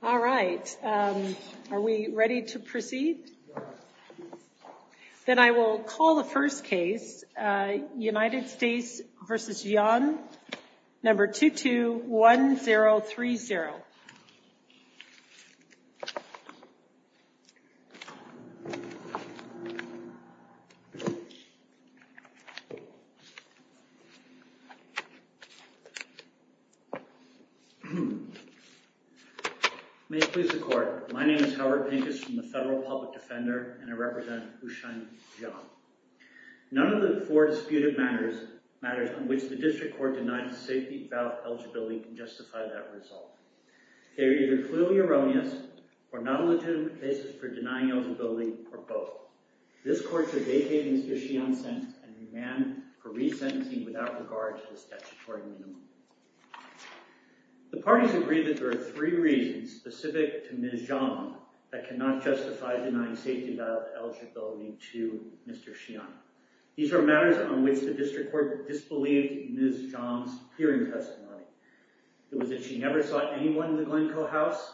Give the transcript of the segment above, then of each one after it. All right, are we ready to proceed? Then I will call the first case, United States v. Xian, number 221030. May it please the court, my name is Howard Pincus from the Federal Public Defender, and I represent Huishan Jiang. None of the four disputed matters on which the district court denied a safety valve eligibility can justify that result. They are either clearly erroneous, or not legitimate cases for denying eligibility, or both. This court should vacate Mr. Xian's sentence and demand a re-sentencing without regard to the statutory minimum. The parties agree that there are three reasons specific to Ms. Jiang that cannot justify denying safety valve eligibility to Mr. Xian. These are matters on which the district court disbelieved Ms. Jiang's hearing testimony. It was that she never saw anyone in the Glencoe house,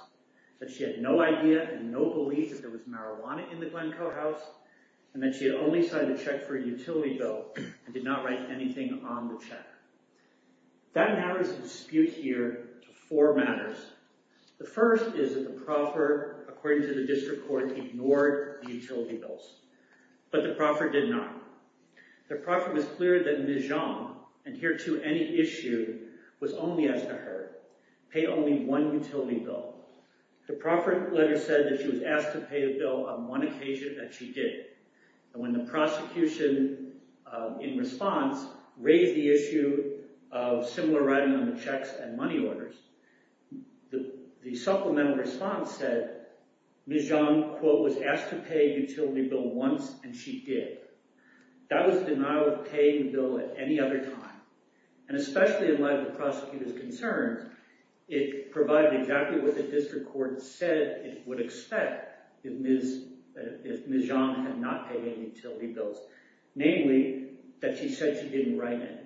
that she had no idea and no belief that there was marijuana in the Glencoe house, and that she had only signed a check for a utility bill and did not write anything on the check. That narrows the dispute here to four matters. The first is that the proffer, according to the district court, ignored the utility bills. But the proffer did not. The proffer was clear that Ms. Jiang, and here too any issue, was only asked to heard. Pay only one utility bill. The proffer later said that she was asked to pay a bill on one occasion that she did. And when the prosecution, in response, raised the issue of similar writing on the checks and money orders, the supplemental response said Ms. Jiang, quote, was asked to pay a utility bill once and she did. That was denial of paying the bill at any other time. And especially in light of the prosecutor's concerns, it provided exactly what the district court said it would expect if Ms. Jiang had not paid any utility bills. Namely, that she said she didn't write any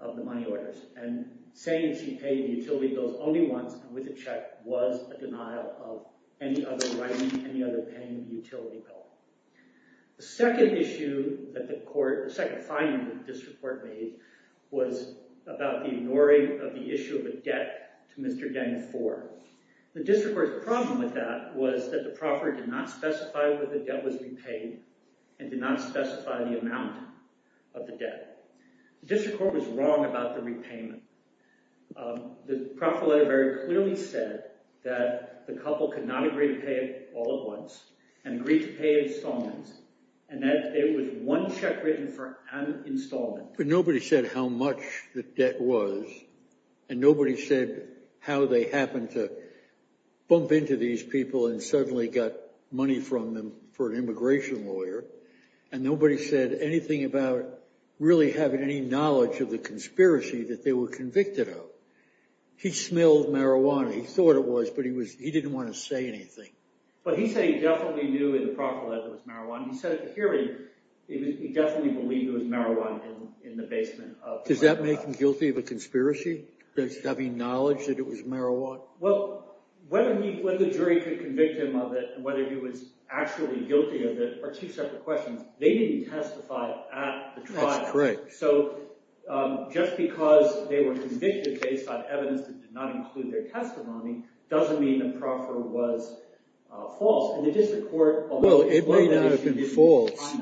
of the money orders. And saying she paid the utility bills only once and with a check was a denial of any other writing, any other paying the utility bill. The second issue that the court, the second finding that the district court made was about the ignoring of the issue of a debt to Mr. Jiang for. The district court's problem with that was that the proffer did not specify that the debt was repaid and did not specify the amount of the debt. The district court was wrong about the repayment. The proffer later very clearly said that the couple could not agree to pay it all at once and agree to pay installments. And that there was one check written for an installment. But nobody said how much the debt was. And nobody said how they happened to bump into these people and suddenly got money from them for an immigration lawyer. And nobody said anything about really having any knowledge of the conspiracy that they were convicted of. He smelled marijuana. He thought it was, but he was, he didn't want to say anything. But he said he definitely knew in the proffer that it was marijuana. He said at the hearing, he definitely believed it was marijuana in the basement. Does that make him guilty of a conspiracy? Does he have any knowledge that it was marijuana? Well, whether the jury could convict him of it, whether he was actually guilty of it are two separate questions. They didn't testify at the trial. That's correct. So just because they were convicted based on evidence that did not include their testimony doesn't mean the proffer was false. Well, it may not have been false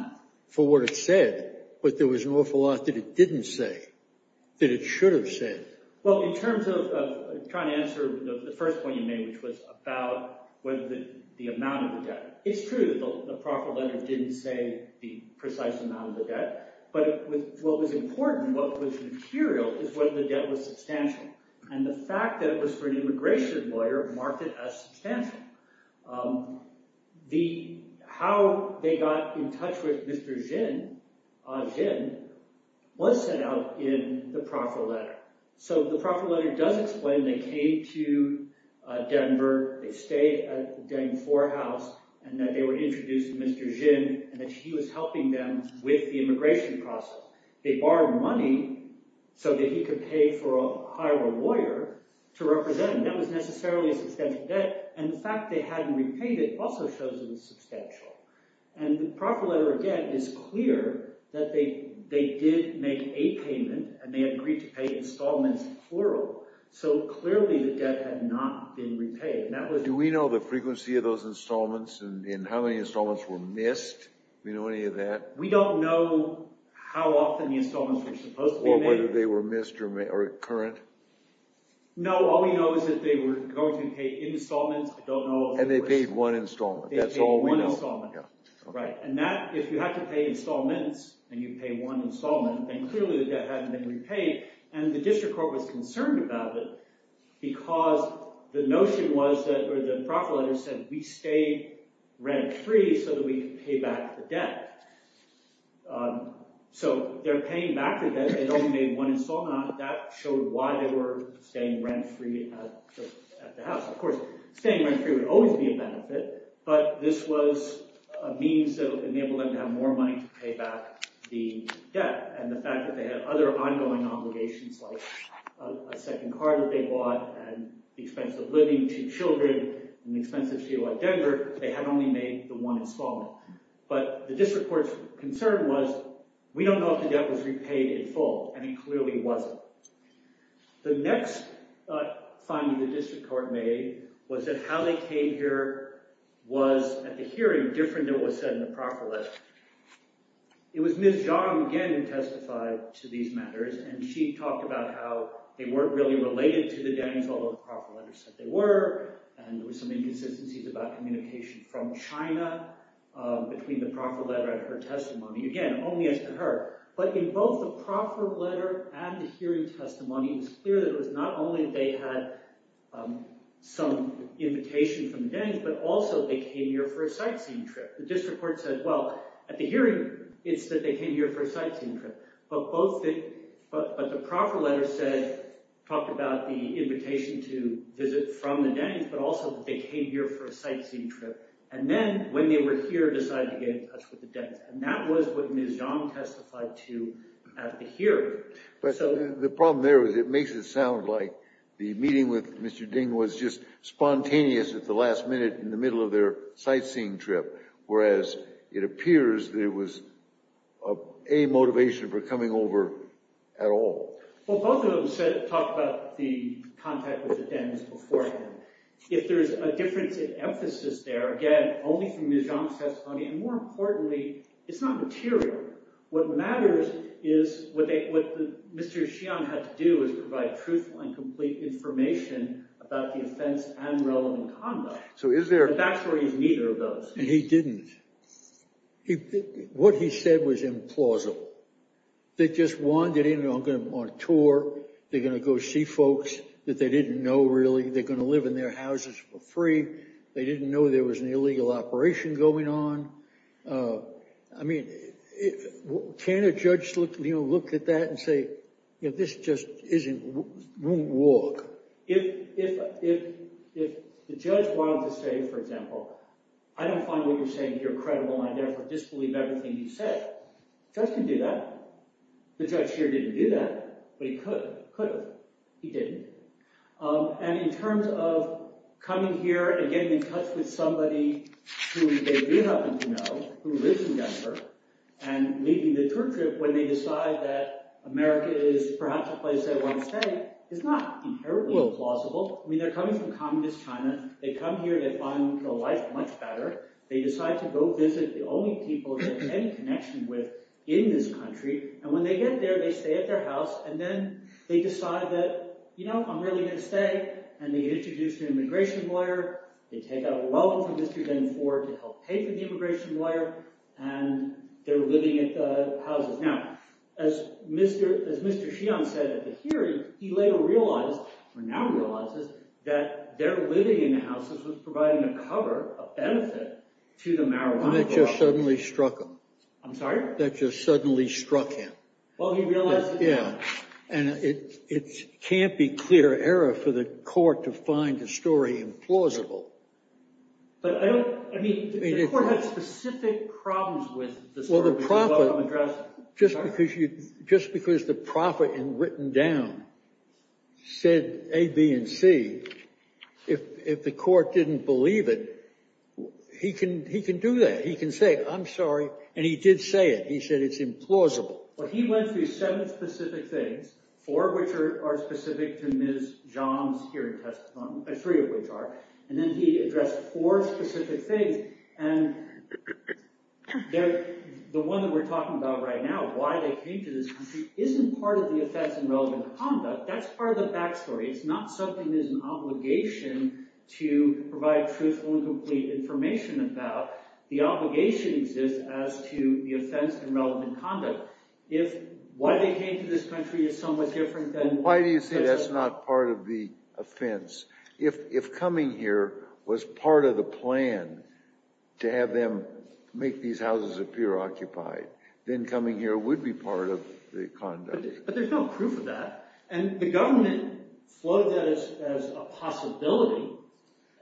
for what it said. But there was an awful lot that it didn't say that it should have said. Well, in terms of trying to answer the first point you made, which was about the amount of the debt. It's true that the proffer letter didn't say the precise amount of the debt. But what was important, what was material, is whether the debt was substantial. And the fact that it was for an immigration lawyer marked it as substantial. How they got in touch with Mr. Ginn was set out in the proffer letter. So the proffer letter does explain they came to Denver. They stayed at the Danforth house and that they were introduced to Mr. Ginn and that he was helping them with the immigration process. They borrowed money so that he could pay for a higher lawyer to represent him. That was necessarily a substantial debt. And the fact they hadn't repaid it also shows it was substantial. And the proffer letter, again, is clear that they did make a payment and they agreed to pay installments, plural. So clearly the debt had not been repaid. Do we know the frequency of those installments and how many installments were missed? Do we know any of that? We don't know how often the installments were supposed to be made. Or whether they were missed or current? No. All we know is that they were going to pay installments. And they paid one installment. That's all we know. They paid one installment. Right. And that, if you had to pay installments and you pay one installment, then clearly the debt hadn't been repaid. And the district court was concerned about it because the notion was that or the proffer letter said we stayed rent-free so that we could pay back the debt. So they're paying back the debt. They only made one installment. That showed why they were staying rent-free at the house. Of course, staying rent-free would always be a benefit, but this was a means that would enable them to have more money to pay back the debt. And the fact that they had other ongoing obligations like a second car that they bought and the expense of living, two children, and the expense of fuel at Denver, they had only made the one installment. But the district court's concern was we don't know if the debt was repaid in full, and it clearly wasn't. The next finding the district court made was that how they came here was, at the hearing, different than what was said in the proffer letter. It was Ms. Jong again who testified to these matters, and she talked about how they weren't really related to the Danes, although the proffer letter said they were, and there were some inconsistencies about communication from China between the proffer letter and her testimony. Again, only as to her. But in both the proffer letter and the hearing testimony, it was clear that it was not only they had some invitation from the Danes, but also they came here for a sightseeing trip. The district court said, well, at the hearing, it's that they came here for a sightseeing trip. But the proffer letter talked about the invitation to visit from the Danes, but also that they came here for a sightseeing trip. And then, when they were here, decided to get in touch with the Danes. And that was what Ms. Jong testified to at the hearing. But the problem there was it makes it sound like the meeting with Mr. Ding was just spontaneous at the last minute in the middle of their sightseeing trip, whereas it appears there was a motivation for coming over at all. Well, both of them talked about the contact with the Danes beforehand. If there is a difference in emphasis there, again, only from Ms. Jong's testimony, and more importantly, it's not material. What matters is what Mr. Xian had to do was provide truthful and complete information about the offense and relevant conduct. So is there— The back story is neither of those. And he didn't. What he said was implausible. They just wandered in on tour. They're going to go see folks that they didn't know, really. They're going to live in their houses for free. They didn't know there was an illegal operation going on. I mean, can a judge look at that and say, you know, this just isn't—won't work? If the judge wanted to say, for example, I don't find what you're saying here credible, and I therefore disbelieve everything you said, the judge can do that. The judge here didn't do that, but he could have. He didn't. And in terms of coming here and getting in touch with somebody who they do happen to know, who lives in Denver, and leading the tour trip when they decide that America is perhaps the place they want to stay, it's not inherently implausible. I mean, they're coming from communist China. They come here. They find the life much better. They decide to go visit the only people they have any connection with in this country. And when they get there, they stay at their house. And then they decide that, you know, I'm really going to stay. And they introduce an immigration lawyer. They take out a loan from Mr. Denford to help pay for the immigration lawyer. And they're living at the houses. Now, as Mr. Sheehan said at the hearing, he later realized, or now realizes, that their living in the houses was providing a cover, a benefit, to the marijuana problem. And that just suddenly struck him. I'm sorry? That just suddenly struck him. Well, he realized that. Yeah. And it can't be clear error for the court to find the story implausible. But I don't, I mean, the court had specific problems with the story. Well, the prophet, just because the prophet in written down said A, B, and C, if the court didn't believe it, he can do that. He can say, I'm sorry. And he did say it. He said it's implausible. Well, he went through seven specific things, four of which are specific to Ms. John's hearing testimony, three of which are. And then he addressed four specific things. And the one that we're talking about right now, why they came to this country, isn't part of the offense in relevant conduct. That's part of the backstory. It's not something that is an obligation to provide truthful and complete information about. The obligation exists as to the offense in relevant conduct. If why they came to this country is somewhat different than... Why do you say that's not part of the offense? If coming here was part of the plan to have them make these houses appear occupied, then coming here would be part of the conduct. But there's no proof of that. And the government floated that as a possibility.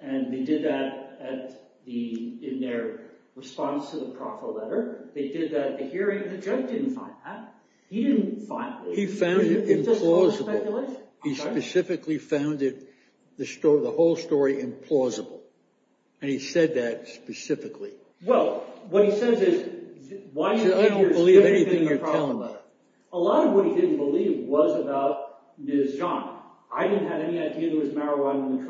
And they did that in their response to the prophet letter. They did that at the hearing. The judge didn't find that. He didn't find it. He found it implausible. It's just false speculation. He specifically found the whole story implausible. And he said that specifically. Well, what he says is... I don't believe anything you're telling me. A lot of what he didn't believe was about Ms. John. I didn't have any idea there was marijuana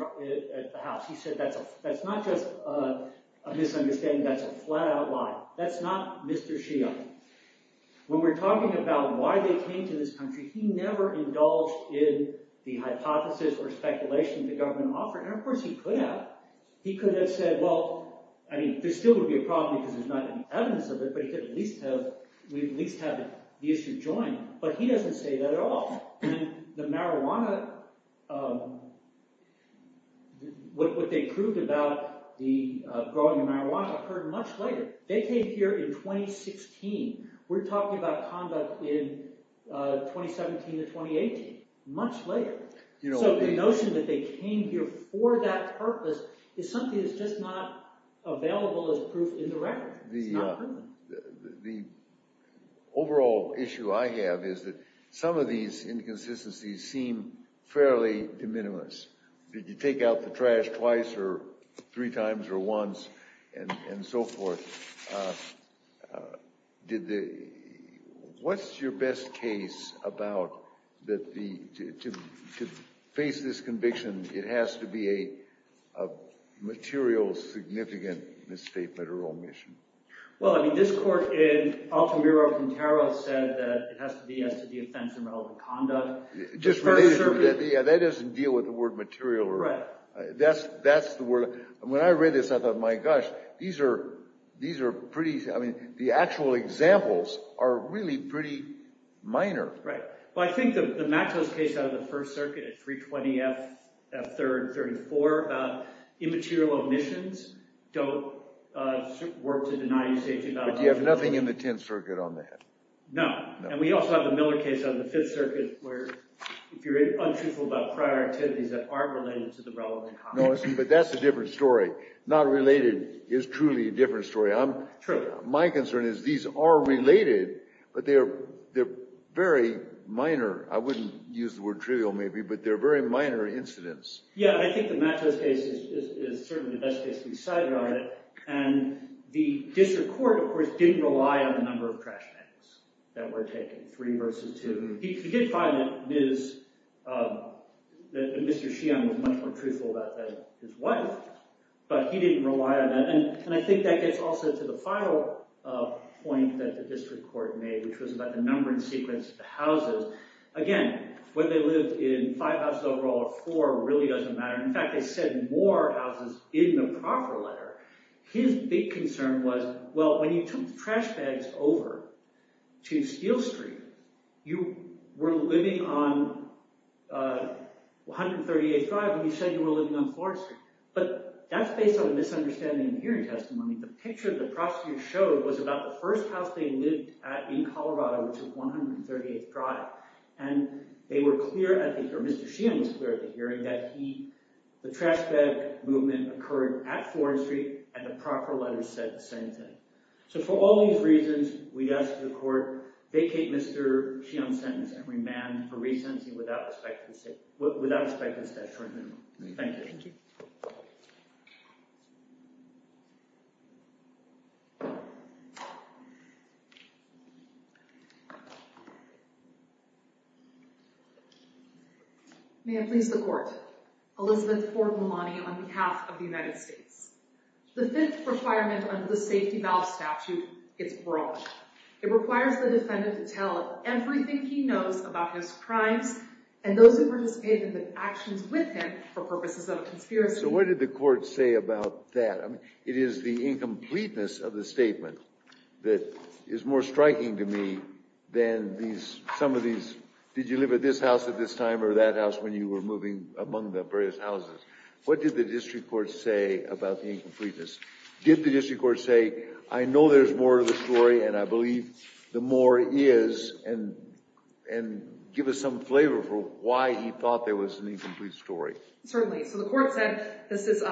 at the house. He said that's not just a misunderstanding. That's a flat-out lie. That's not Mr. Sheehan. When we're talking about why they came to this country, he never indulged in the hypothesis or speculation the government offered. And, of course, he could have. He could have said, well, I mean, there still would be a problem because there's not any evidence of it. But he could at least have... We'd at least have the issue joined. But he doesn't say that at all. And the marijuana... What they proved about the growing of marijuana occurred much later. They came here in 2016. We're talking about conduct in 2017 to 2018. Much later. So the notion that they came here for that purpose is something that's just not available as proof in the record. It's not proven. The overall issue I have is that some of these inconsistencies seem fairly de minimis. Did you take out the trash twice or three times or once and so forth? What's your best case about that to face this conviction, it has to be a material significant misstatement or omission? Well, I mean, this court in Altamira-Quintero said that it has to be as to the offense in relevant conduct. Yeah, that doesn't deal with the word material. Right. That's the word. When I read this, I thought, my gosh, these are pretty... I mean, the actual examples are really pretty minor. Right. Well, I think the Maxwell's case out of the First Circuit at 320 F. 3rd 34 about immaterial omissions don't work to deny you safety. But you have nothing in the Tenth Circuit on that. No. And we also have the Miller case on the Fifth Circuit where if you're untruthful about prior activities that aren't related to the relevant conduct. But that's a different story. Not related is truly a different story. My concern is these are related, but they're very minor. I wouldn't use the word trivial, maybe, but they're very minor incidents. Yeah, I think the Maxwell's case is certainly the best case we've cited on it. And the district court, of course, didn't rely on the number of trash bags that were taken, three versus two. You did find that Mr. Sheehan was much more truthful about that than his wife, but he didn't rely on that. And I think that gets also to the final point that the district court made, which was about the numbering sequence of the houses. Again, whether they lived in five houses overall or four really doesn't matter. In fact, they said more houses in the proper letter. His big concern was, well, when you took trash bags over to Steel Street, you were living on 138th Drive and you said you were living on Florida Street. But that's based on a misunderstanding in hearing testimony. The picture the prosecutor showed was about the first house they lived at in Colorado, which was 138th Drive. And Mr. Sheehan was clear at the hearing that the trash bag movement occurred at Florida Street, and the proper letter said the same thing. So for all these reasons, we'd ask the court, vacate Mr. Sheehan's sentence and remand for resentment without a specific statute amendment. Thank you. Thank you. May it please the court. Elizabeth Ford Malani on behalf of the United States. The fifth requirement under the safety valve statute is broad. It requires the defendant to tell everything he knows about his crimes and those who participated in the actions with him for purposes of a conspiracy. So what did the court say about that? It is the incompleteness of the statement that is more striking to me than some of these, did you live at this house at this time or that house when you were moving among the various houses? What did the district court say about the incompleteness? Did the district court say, I know there's more to the story and I believe the more is, and give us some flavor for why he thought there was an incomplete story? Certainly. So the court said, this is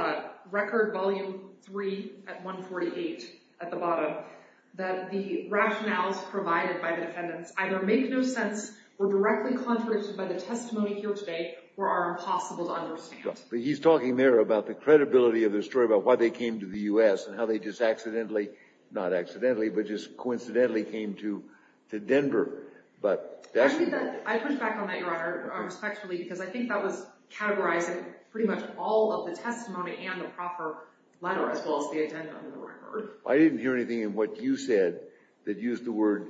record volume three at 148 at the bottom, that the rationales provided by the defendants either make no sense or directly contradicted by the testimony here today or are impossible to understand. But he's talking there about the credibility of the story about why they came to the US and how they just accidentally, not accidentally, but just coincidentally came to Denver. I push back on that, Your Honor, respectfully because I think that was categorizing pretty much all of the testimony and the proper letter as well as the agenda of the record. I didn't hear anything in what you said that used the word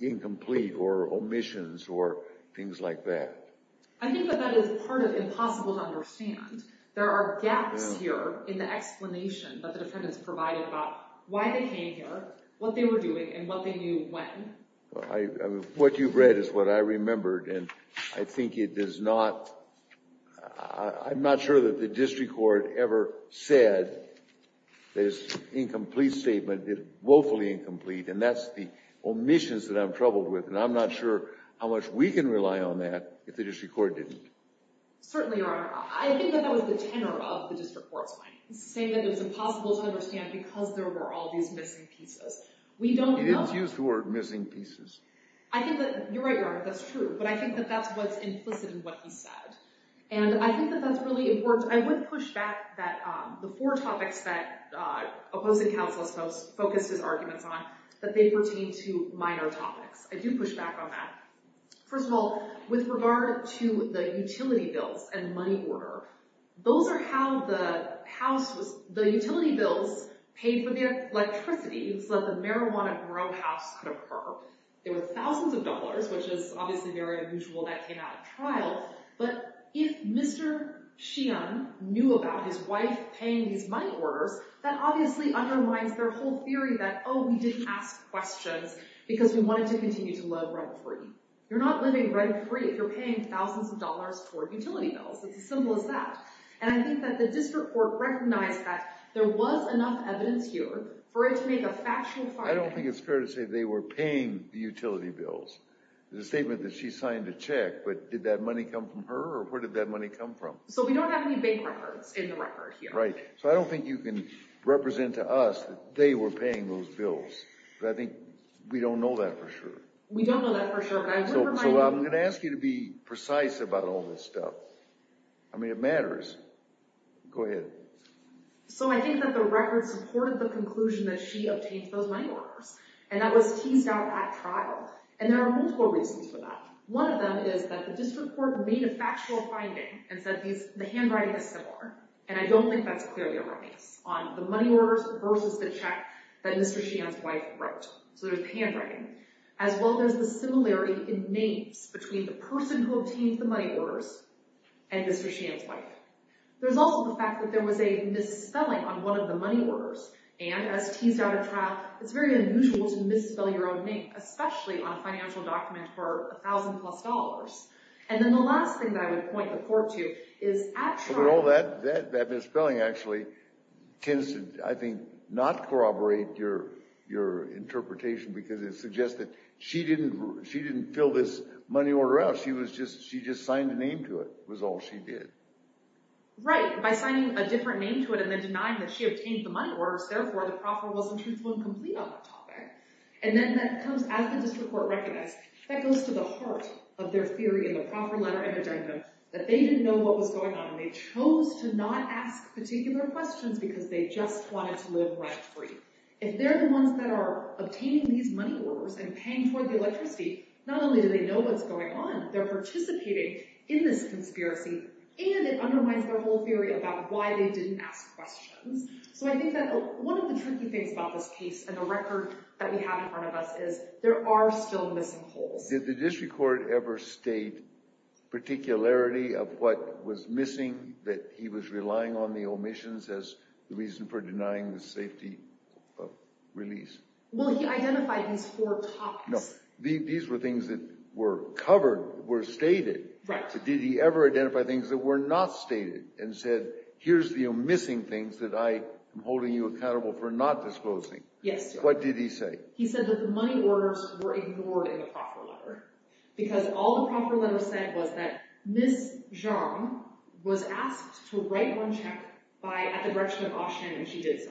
incomplete or omissions or things like that. I think that that is part of impossible to understand. There are gaps here in the explanation that the defendants provided about why they came here, what they were doing, and what they knew when. What you've read is what I remembered and I think it does not, I'm not sure that the district court ever said this incomplete statement, woefully incomplete, and that's the omissions that I'm troubled with. And I'm not sure how much we can rely on that if the district court didn't. Certainly, Your Honor. I think that that was the tenor of the district court's finding, saying that it was impossible to understand because there were all these missing pieces. It is used the word missing pieces. I think that, you're right, Your Honor, that's true, but I think that that's what's implicit in what he said. And I think that that's really important. I would push back that the four topics that opposing counsel has focused his arguments on, that they pertain to minor topics. I do push back on that. First of all, with regard to the utility bills and money order, those are how the house was, the utility bills paid for the electricity so that the marijuana grow house could occur. There were thousands of dollars, which is obviously very unusual, that came out of trial. But if Mr. Sheehan knew about his wife paying these money orders, that obviously undermines their whole theory that, oh, we didn't ask questions because we wanted to continue to live rent-free. You're not living rent-free if you're paying thousands of dollars for utility bills. It's as simple as that. And I think that the district court recognized that there was enough evidence here for it to make a factual finding. I don't think it's fair to say they were paying the utility bills. The statement that she signed a check, but did that money come from her or where did that money come from? So we don't have any bank records in the record here. Right. So I don't think you can represent to us that they were paying those bills. But I think we don't know that for sure. We don't know that for sure. So I'm going to ask you to be precise about all this stuff. I mean, it matters. Go ahead. So I think that the record supported the conclusion that she obtained those money orders. And that was teased out at trial. And there are multiple reasons for that. One of them is that the district court made a factual finding and said the handwriting is similar. And I don't think that's clearly a release on the money orders versus the check that Mr. Sheehan's wife wrote. So there's the handwriting. As well, there's the similarity in names between the person who obtained the money orders and Mr. Sheehan's wife. There's also the fact that there was a misspelling on one of the money orders. And as teased out at trial, it's very unusual to misspell your own name, especially on a financial document for $1,000 plus. And then the last thing that I would point the court to is at trial. But all that misspelling, actually, tends to, I think, not corroborate your interpretation. Because it suggests that she didn't fill this money order out. She just signed a name to it was all she did. Right. By signing a different name to it and then denying that she obtained the money orders, therefore, the proffer was, in truth, incomplete on that topic. And then that comes as the district court recognized. That goes to the heart of their theory in the proffer letter and addendum, that they didn't know what was going on. And they chose to not ask particular questions because they just wanted to live rent-free. If they're the ones that are obtaining these money orders and paying toward the electricity, not only do they know what's going on, they're participating in this conspiracy. And it undermines their whole theory about why they didn't ask questions. So I think that one of the tricky things about this case and the record that we have in front of us is there are still missing holes. Did the district court ever state particularity of what was missing, that he was relying on the omissions as the reason for denying the safety of release? Well, he identified these four topics. No. These were things that were covered, were stated. Right. Did he ever identify things that were not stated and said, here's the missing things that I am holding you accountable for not disclosing? Yes. What did he say? He said that the money orders were ignored in the proffer letter. Because all the proffer letter said was that Ms. Zhang was asked to write one check at the direction of Ah Shen, and she did so.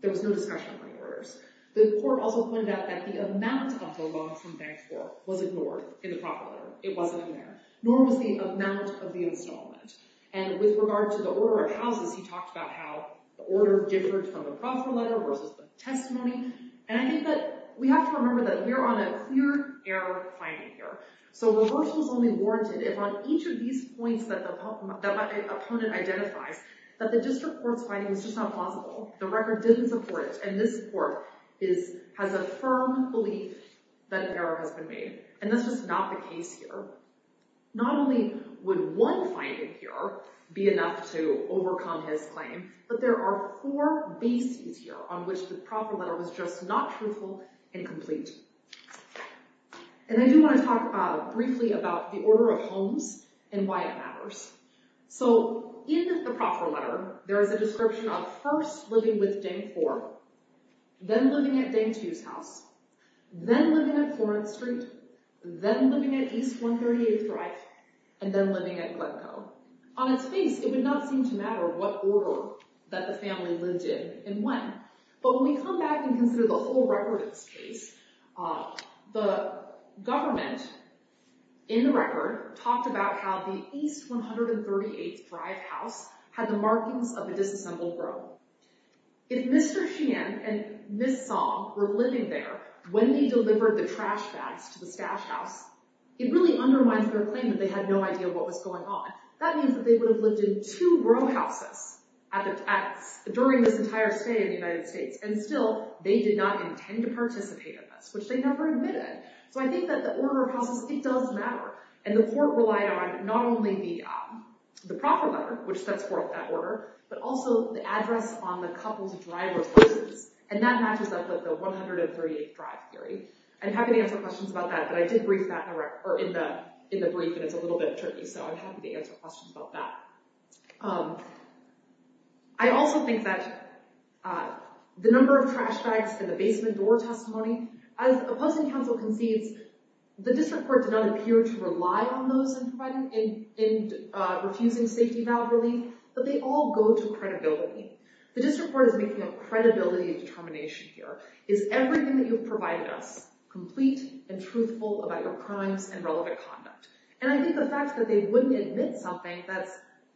There was no discussion of money orders. The court also pointed out that the amount of the loan from Bank 4 was ignored in the proffer letter. It wasn't in there. Nor was the amount of the installment. And with regard to the order of houses, he talked about how the order differed from the proffer letter versus the testimony. And I think that we have to remember that we're on a clear error finding here. So reversal is only warranted if on each of these points that the opponent identifies that the district court's finding was just not plausible. The record didn't support it. And this court has a firm belief that an error has been made. And that's just not the case here. Not only would one finding here be enough to overcome his claim, but there are four bases here on which the proffer letter was just not truthful and complete. And I do want to talk briefly about the order of homes and why it matters. So in the proffer letter, there is a description of first living with Bank 4, then living at Bank 2's house, then living at Florence Street, then living at East 138th Drive, and then living at Glencoe. On its face, it would not seem to matter what order that the family lived in and when. But when we come back and consider the whole record of this case, the government, in the record, talked about how the East 138th Drive house had the markings of a disassembled row. If Mr. Sheehan and Ms. Song were living there when they delivered the trash bags to the stash house, it really undermines their claim that they had no idea what was going on. That means that they would have lived in two row houses during this entire stay in the United States. And still, they did not intend to participate in this, which they never admitted. So I think that the order of houses, it does matter. And the court relied on not only the proffer letter, which sets forth that order, but also the address on the couple's driver's license. And that matches up with the 138th Drive theory. I'm happy to answer questions about that, but I did brief that in the brief, and it's a little bit tricky. So I'm happy to answer questions about that. I also think that the number of trash bags in the basement door testimony, as opposing counsel concedes, the district court did not appear to rely on those in refusing safety valve relief. But they all go to credibility. The district court is making a credibility determination here. Is everything that you've provided us complete and truthful about your crimes and relevant conduct? And I think the fact that they wouldn't admit something that's,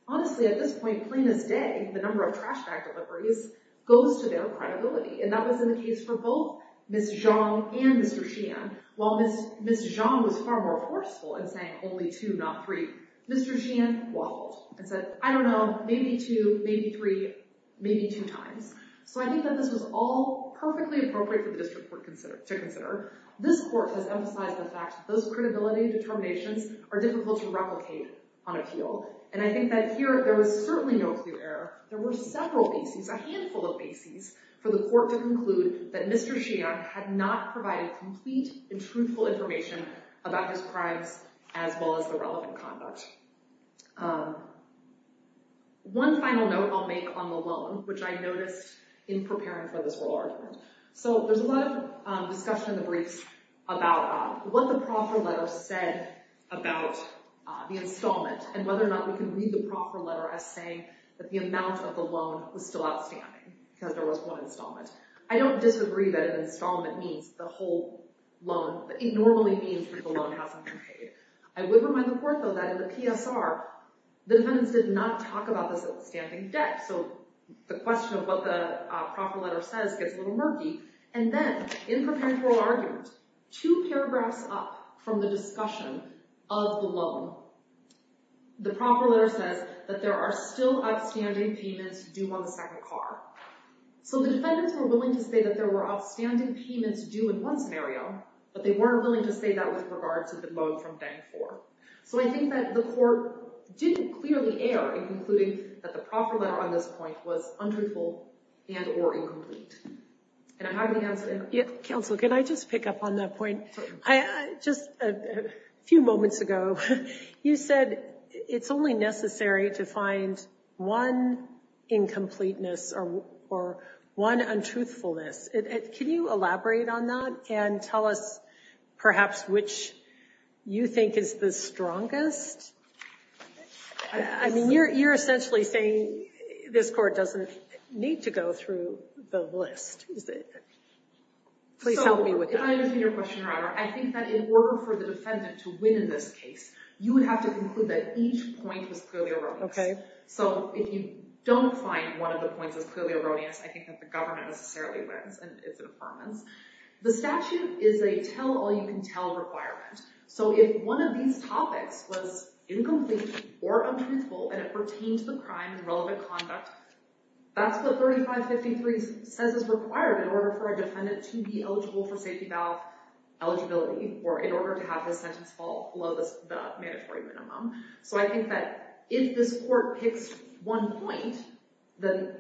honestly, at this point, plain as day, the number of trash bag deliveries, goes to their credibility. And that was the case for both Ms. Zhang and Mr. Xian. While Ms. Zhang was far more forceful in saying only two, not three, Mr. Xian waffled and said, I don't know, maybe two, maybe three, maybe two times. So I think that this was all perfectly appropriate for the district court to consider. This court has emphasized the fact that those credibility determinations are difficult to replicate on appeal. And I think that here, there was certainly no clue error. There were several bases, a handful of bases, for the court to conclude that Mr. Xian had not provided complete and truthful information about his crimes as well as the relevant conduct. One final note I'll make on the loan, which I noticed in preparing for this oral argument. So there's a lot of discussion in the briefs about what the proffer letter said about the installment and whether or not we can read the proffer letter as saying that the amount of the loan was still outstanding because there was one installment. I don't disagree that an installment means the whole loan, but it normally means that the loan hasn't been paid. I would remind the court though that in the PSR, the defendants did not talk about this outstanding debt. So the question of what the proffer letter says gets a little murky. And then in preparing for oral argument, two paragraphs up from the discussion of the loan, the proffer letter says that there are still outstanding payments due on the second car. So the defendants were willing to say that there were outstanding payments due in one scenario, but they weren't willing to say that with regard to the loan from bank four. So I think that the court didn't clearly err in concluding that the proffer letter on this point was untruthful and or incomplete. And I haven't answered it. Counsel, can I just pick up on that point? Just a few moments ago, you said it's only necessary to find one incompleteness or one untruthfulness. Can you elaborate on that and tell us perhaps which you think is the strongest? I mean, you're essentially saying this court doesn't need to go through the list. Please help me with that. If I understand your question, Your Honor, I think that in order for the defendant to win in this case, you would have to conclude that each point was clearly erroneous. OK. So if you don't find one of the points is clearly erroneous, I think that the government necessarily wins, and it's an affirmance. The statute is a tell all you can tell requirement. So if one of these topics was incomplete or untruthful and it pertained to the crime in relevant conduct, that's what 3553 says is required in order for a defendant to be eligible for safety valve eligibility or in order to have his sentence fall below the mandatory minimum. So I think that if this court picks one point, then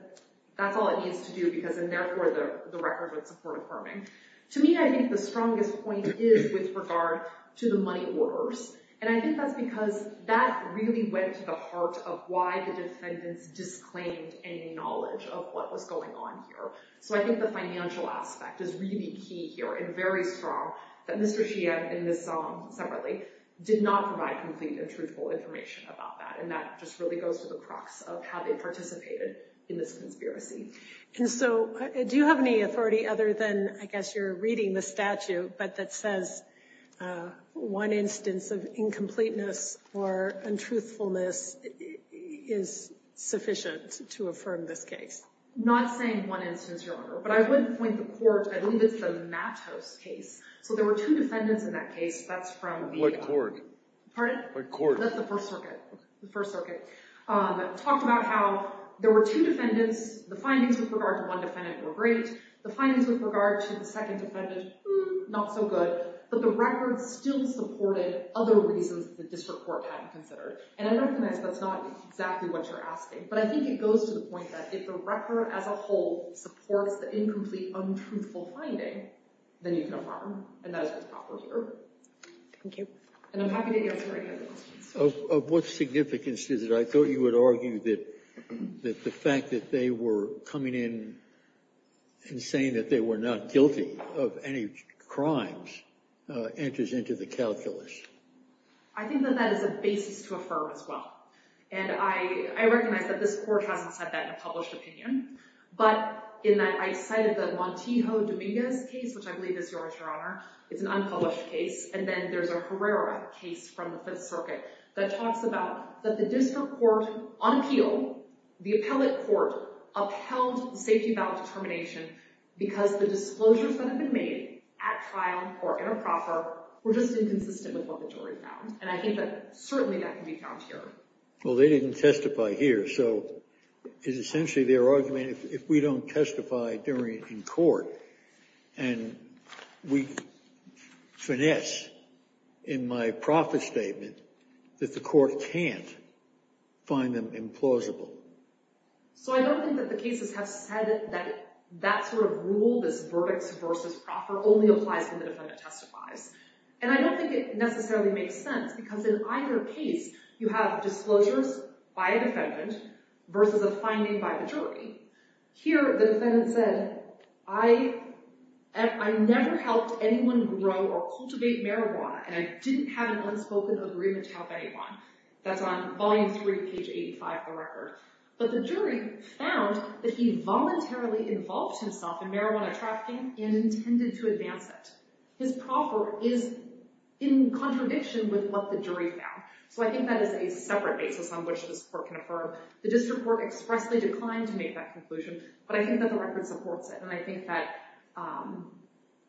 that's all it needs to do because, and therefore, the record would support affirming. To me, I think the strongest point is with regard to the money orders. And I think that's because that really went to the heart of why the defendants disclaimed any knowledge of what was going on here. So I think the financial aspect is really key here and very strong that Mr. Sheehan in this separately did not provide complete and truthful information about that. And that just really goes to the crux of how they participated in this conspiracy. And so do you have any authority other than, I guess you're reading the statute, but that says one instance of incompleteness or untruthfulness is sufficient to affirm this case? Not saying one instance, Your Honor, but I would point the court, I believe it's the Mattos case. So there were two defendants in that case. That's from the- What court? Pardon? What court? That's the First Circuit. The First Circuit. Talked about how there were two defendants. The findings with regard to one defendant were great. The findings with regard to the second defendant, not so good. But the record still supported other reasons that the district court hadn't considered. And I recognize that's not exactly what you're asking. But I think it goes to the point that if the record as a whole supports the incomplete, untruthful finding, then you can affirm. And that is what's proper here. Thank you. And I'm happy to answer any other questions. Of what significance is it? I thought you would argue that the fact that they were coming in and saying that they were not guilty of any crimes enters into the calculus. I think that that is a basis to affirm as well. And I recognize that this court hasn't said that in a published opinion. But I cited the Montijo Dominguez case, which I believe is yours, Your Honor. It's an unpublished case. And then there's a Herrera case from the Fifth Circuit that talks about that the district court, on appeal, the appellate court, upheld the safety ballot determination because the disclosures that have been made at trial or in a proffer were just inconsistent with what the jury found. And I think that certainly that can be found here. Well, they didn't testify here. So it's essentially their argument, if we don't testify in court and we finesse in my proffer statement that the court can't find them implausible. So I don't think that the cases have said that that sort of rule, this verdicts versus proffer, only applies when the defendant testifies. And I don't think it necessarily makes sense because in either case, you have disclosures by a defendant versus a finding by the jury. Here, the defendant said, I never helped anyone grow or cultivate marijuana. And I didn't have an unspoken agreement to help anyone. That's on volume three, page 85 of the record. But the jury found that he voluntarily involved himself in marijuana trafficking and intended to advance it. His proffer is in contradiction with what the jury found. So I think that is a separate basis on which this court can affirm. The district court expressly declined to make that conclusion. But I think that the record supports it. And I think that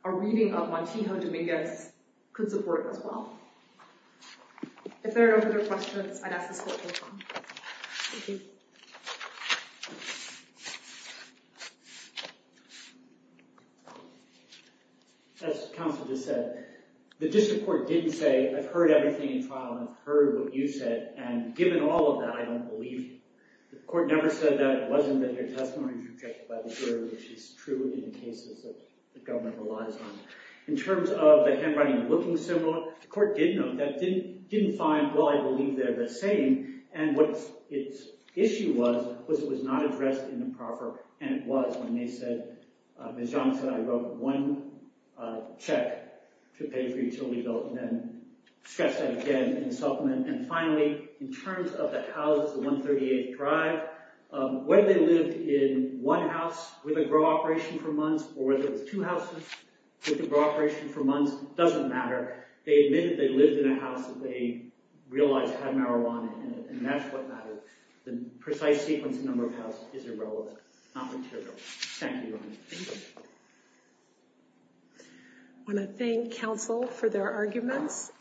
a reading of Montijo Dominguez could support it as well. If there are no further questions, I'd ask this court to adjourn. Thank you. Thank you. As counsel just said, the district court didn't say, I've heard everything in trial. And I've heard what you said. And given all of that, I don't believe you. The court never said that. It wasn't that your testimony was rejected by the jury, which is true in cases that the government relies on. In terms of the handwriting looking similar, the court did note that it didn't find, well, I believe they're the same. And what its issue was, was it was not addressed in the proffer. And it was when they said, as John said, I wrote one check to pay for utility bill. And then stressed that again in the supplement. And finally, in terms of the houses, the 138th Drive, whether they lived in one house with a grow operation for months, or whether it was two houses with a grow operation for months, doesn't matter. They admitted they lived in a house that they realized had marijuana in it. And that's what matters. The precise sequence and number of houses is irrelevant, not material. Thank you, Your Honor. Thank you. I want to thank counsel for their arguments.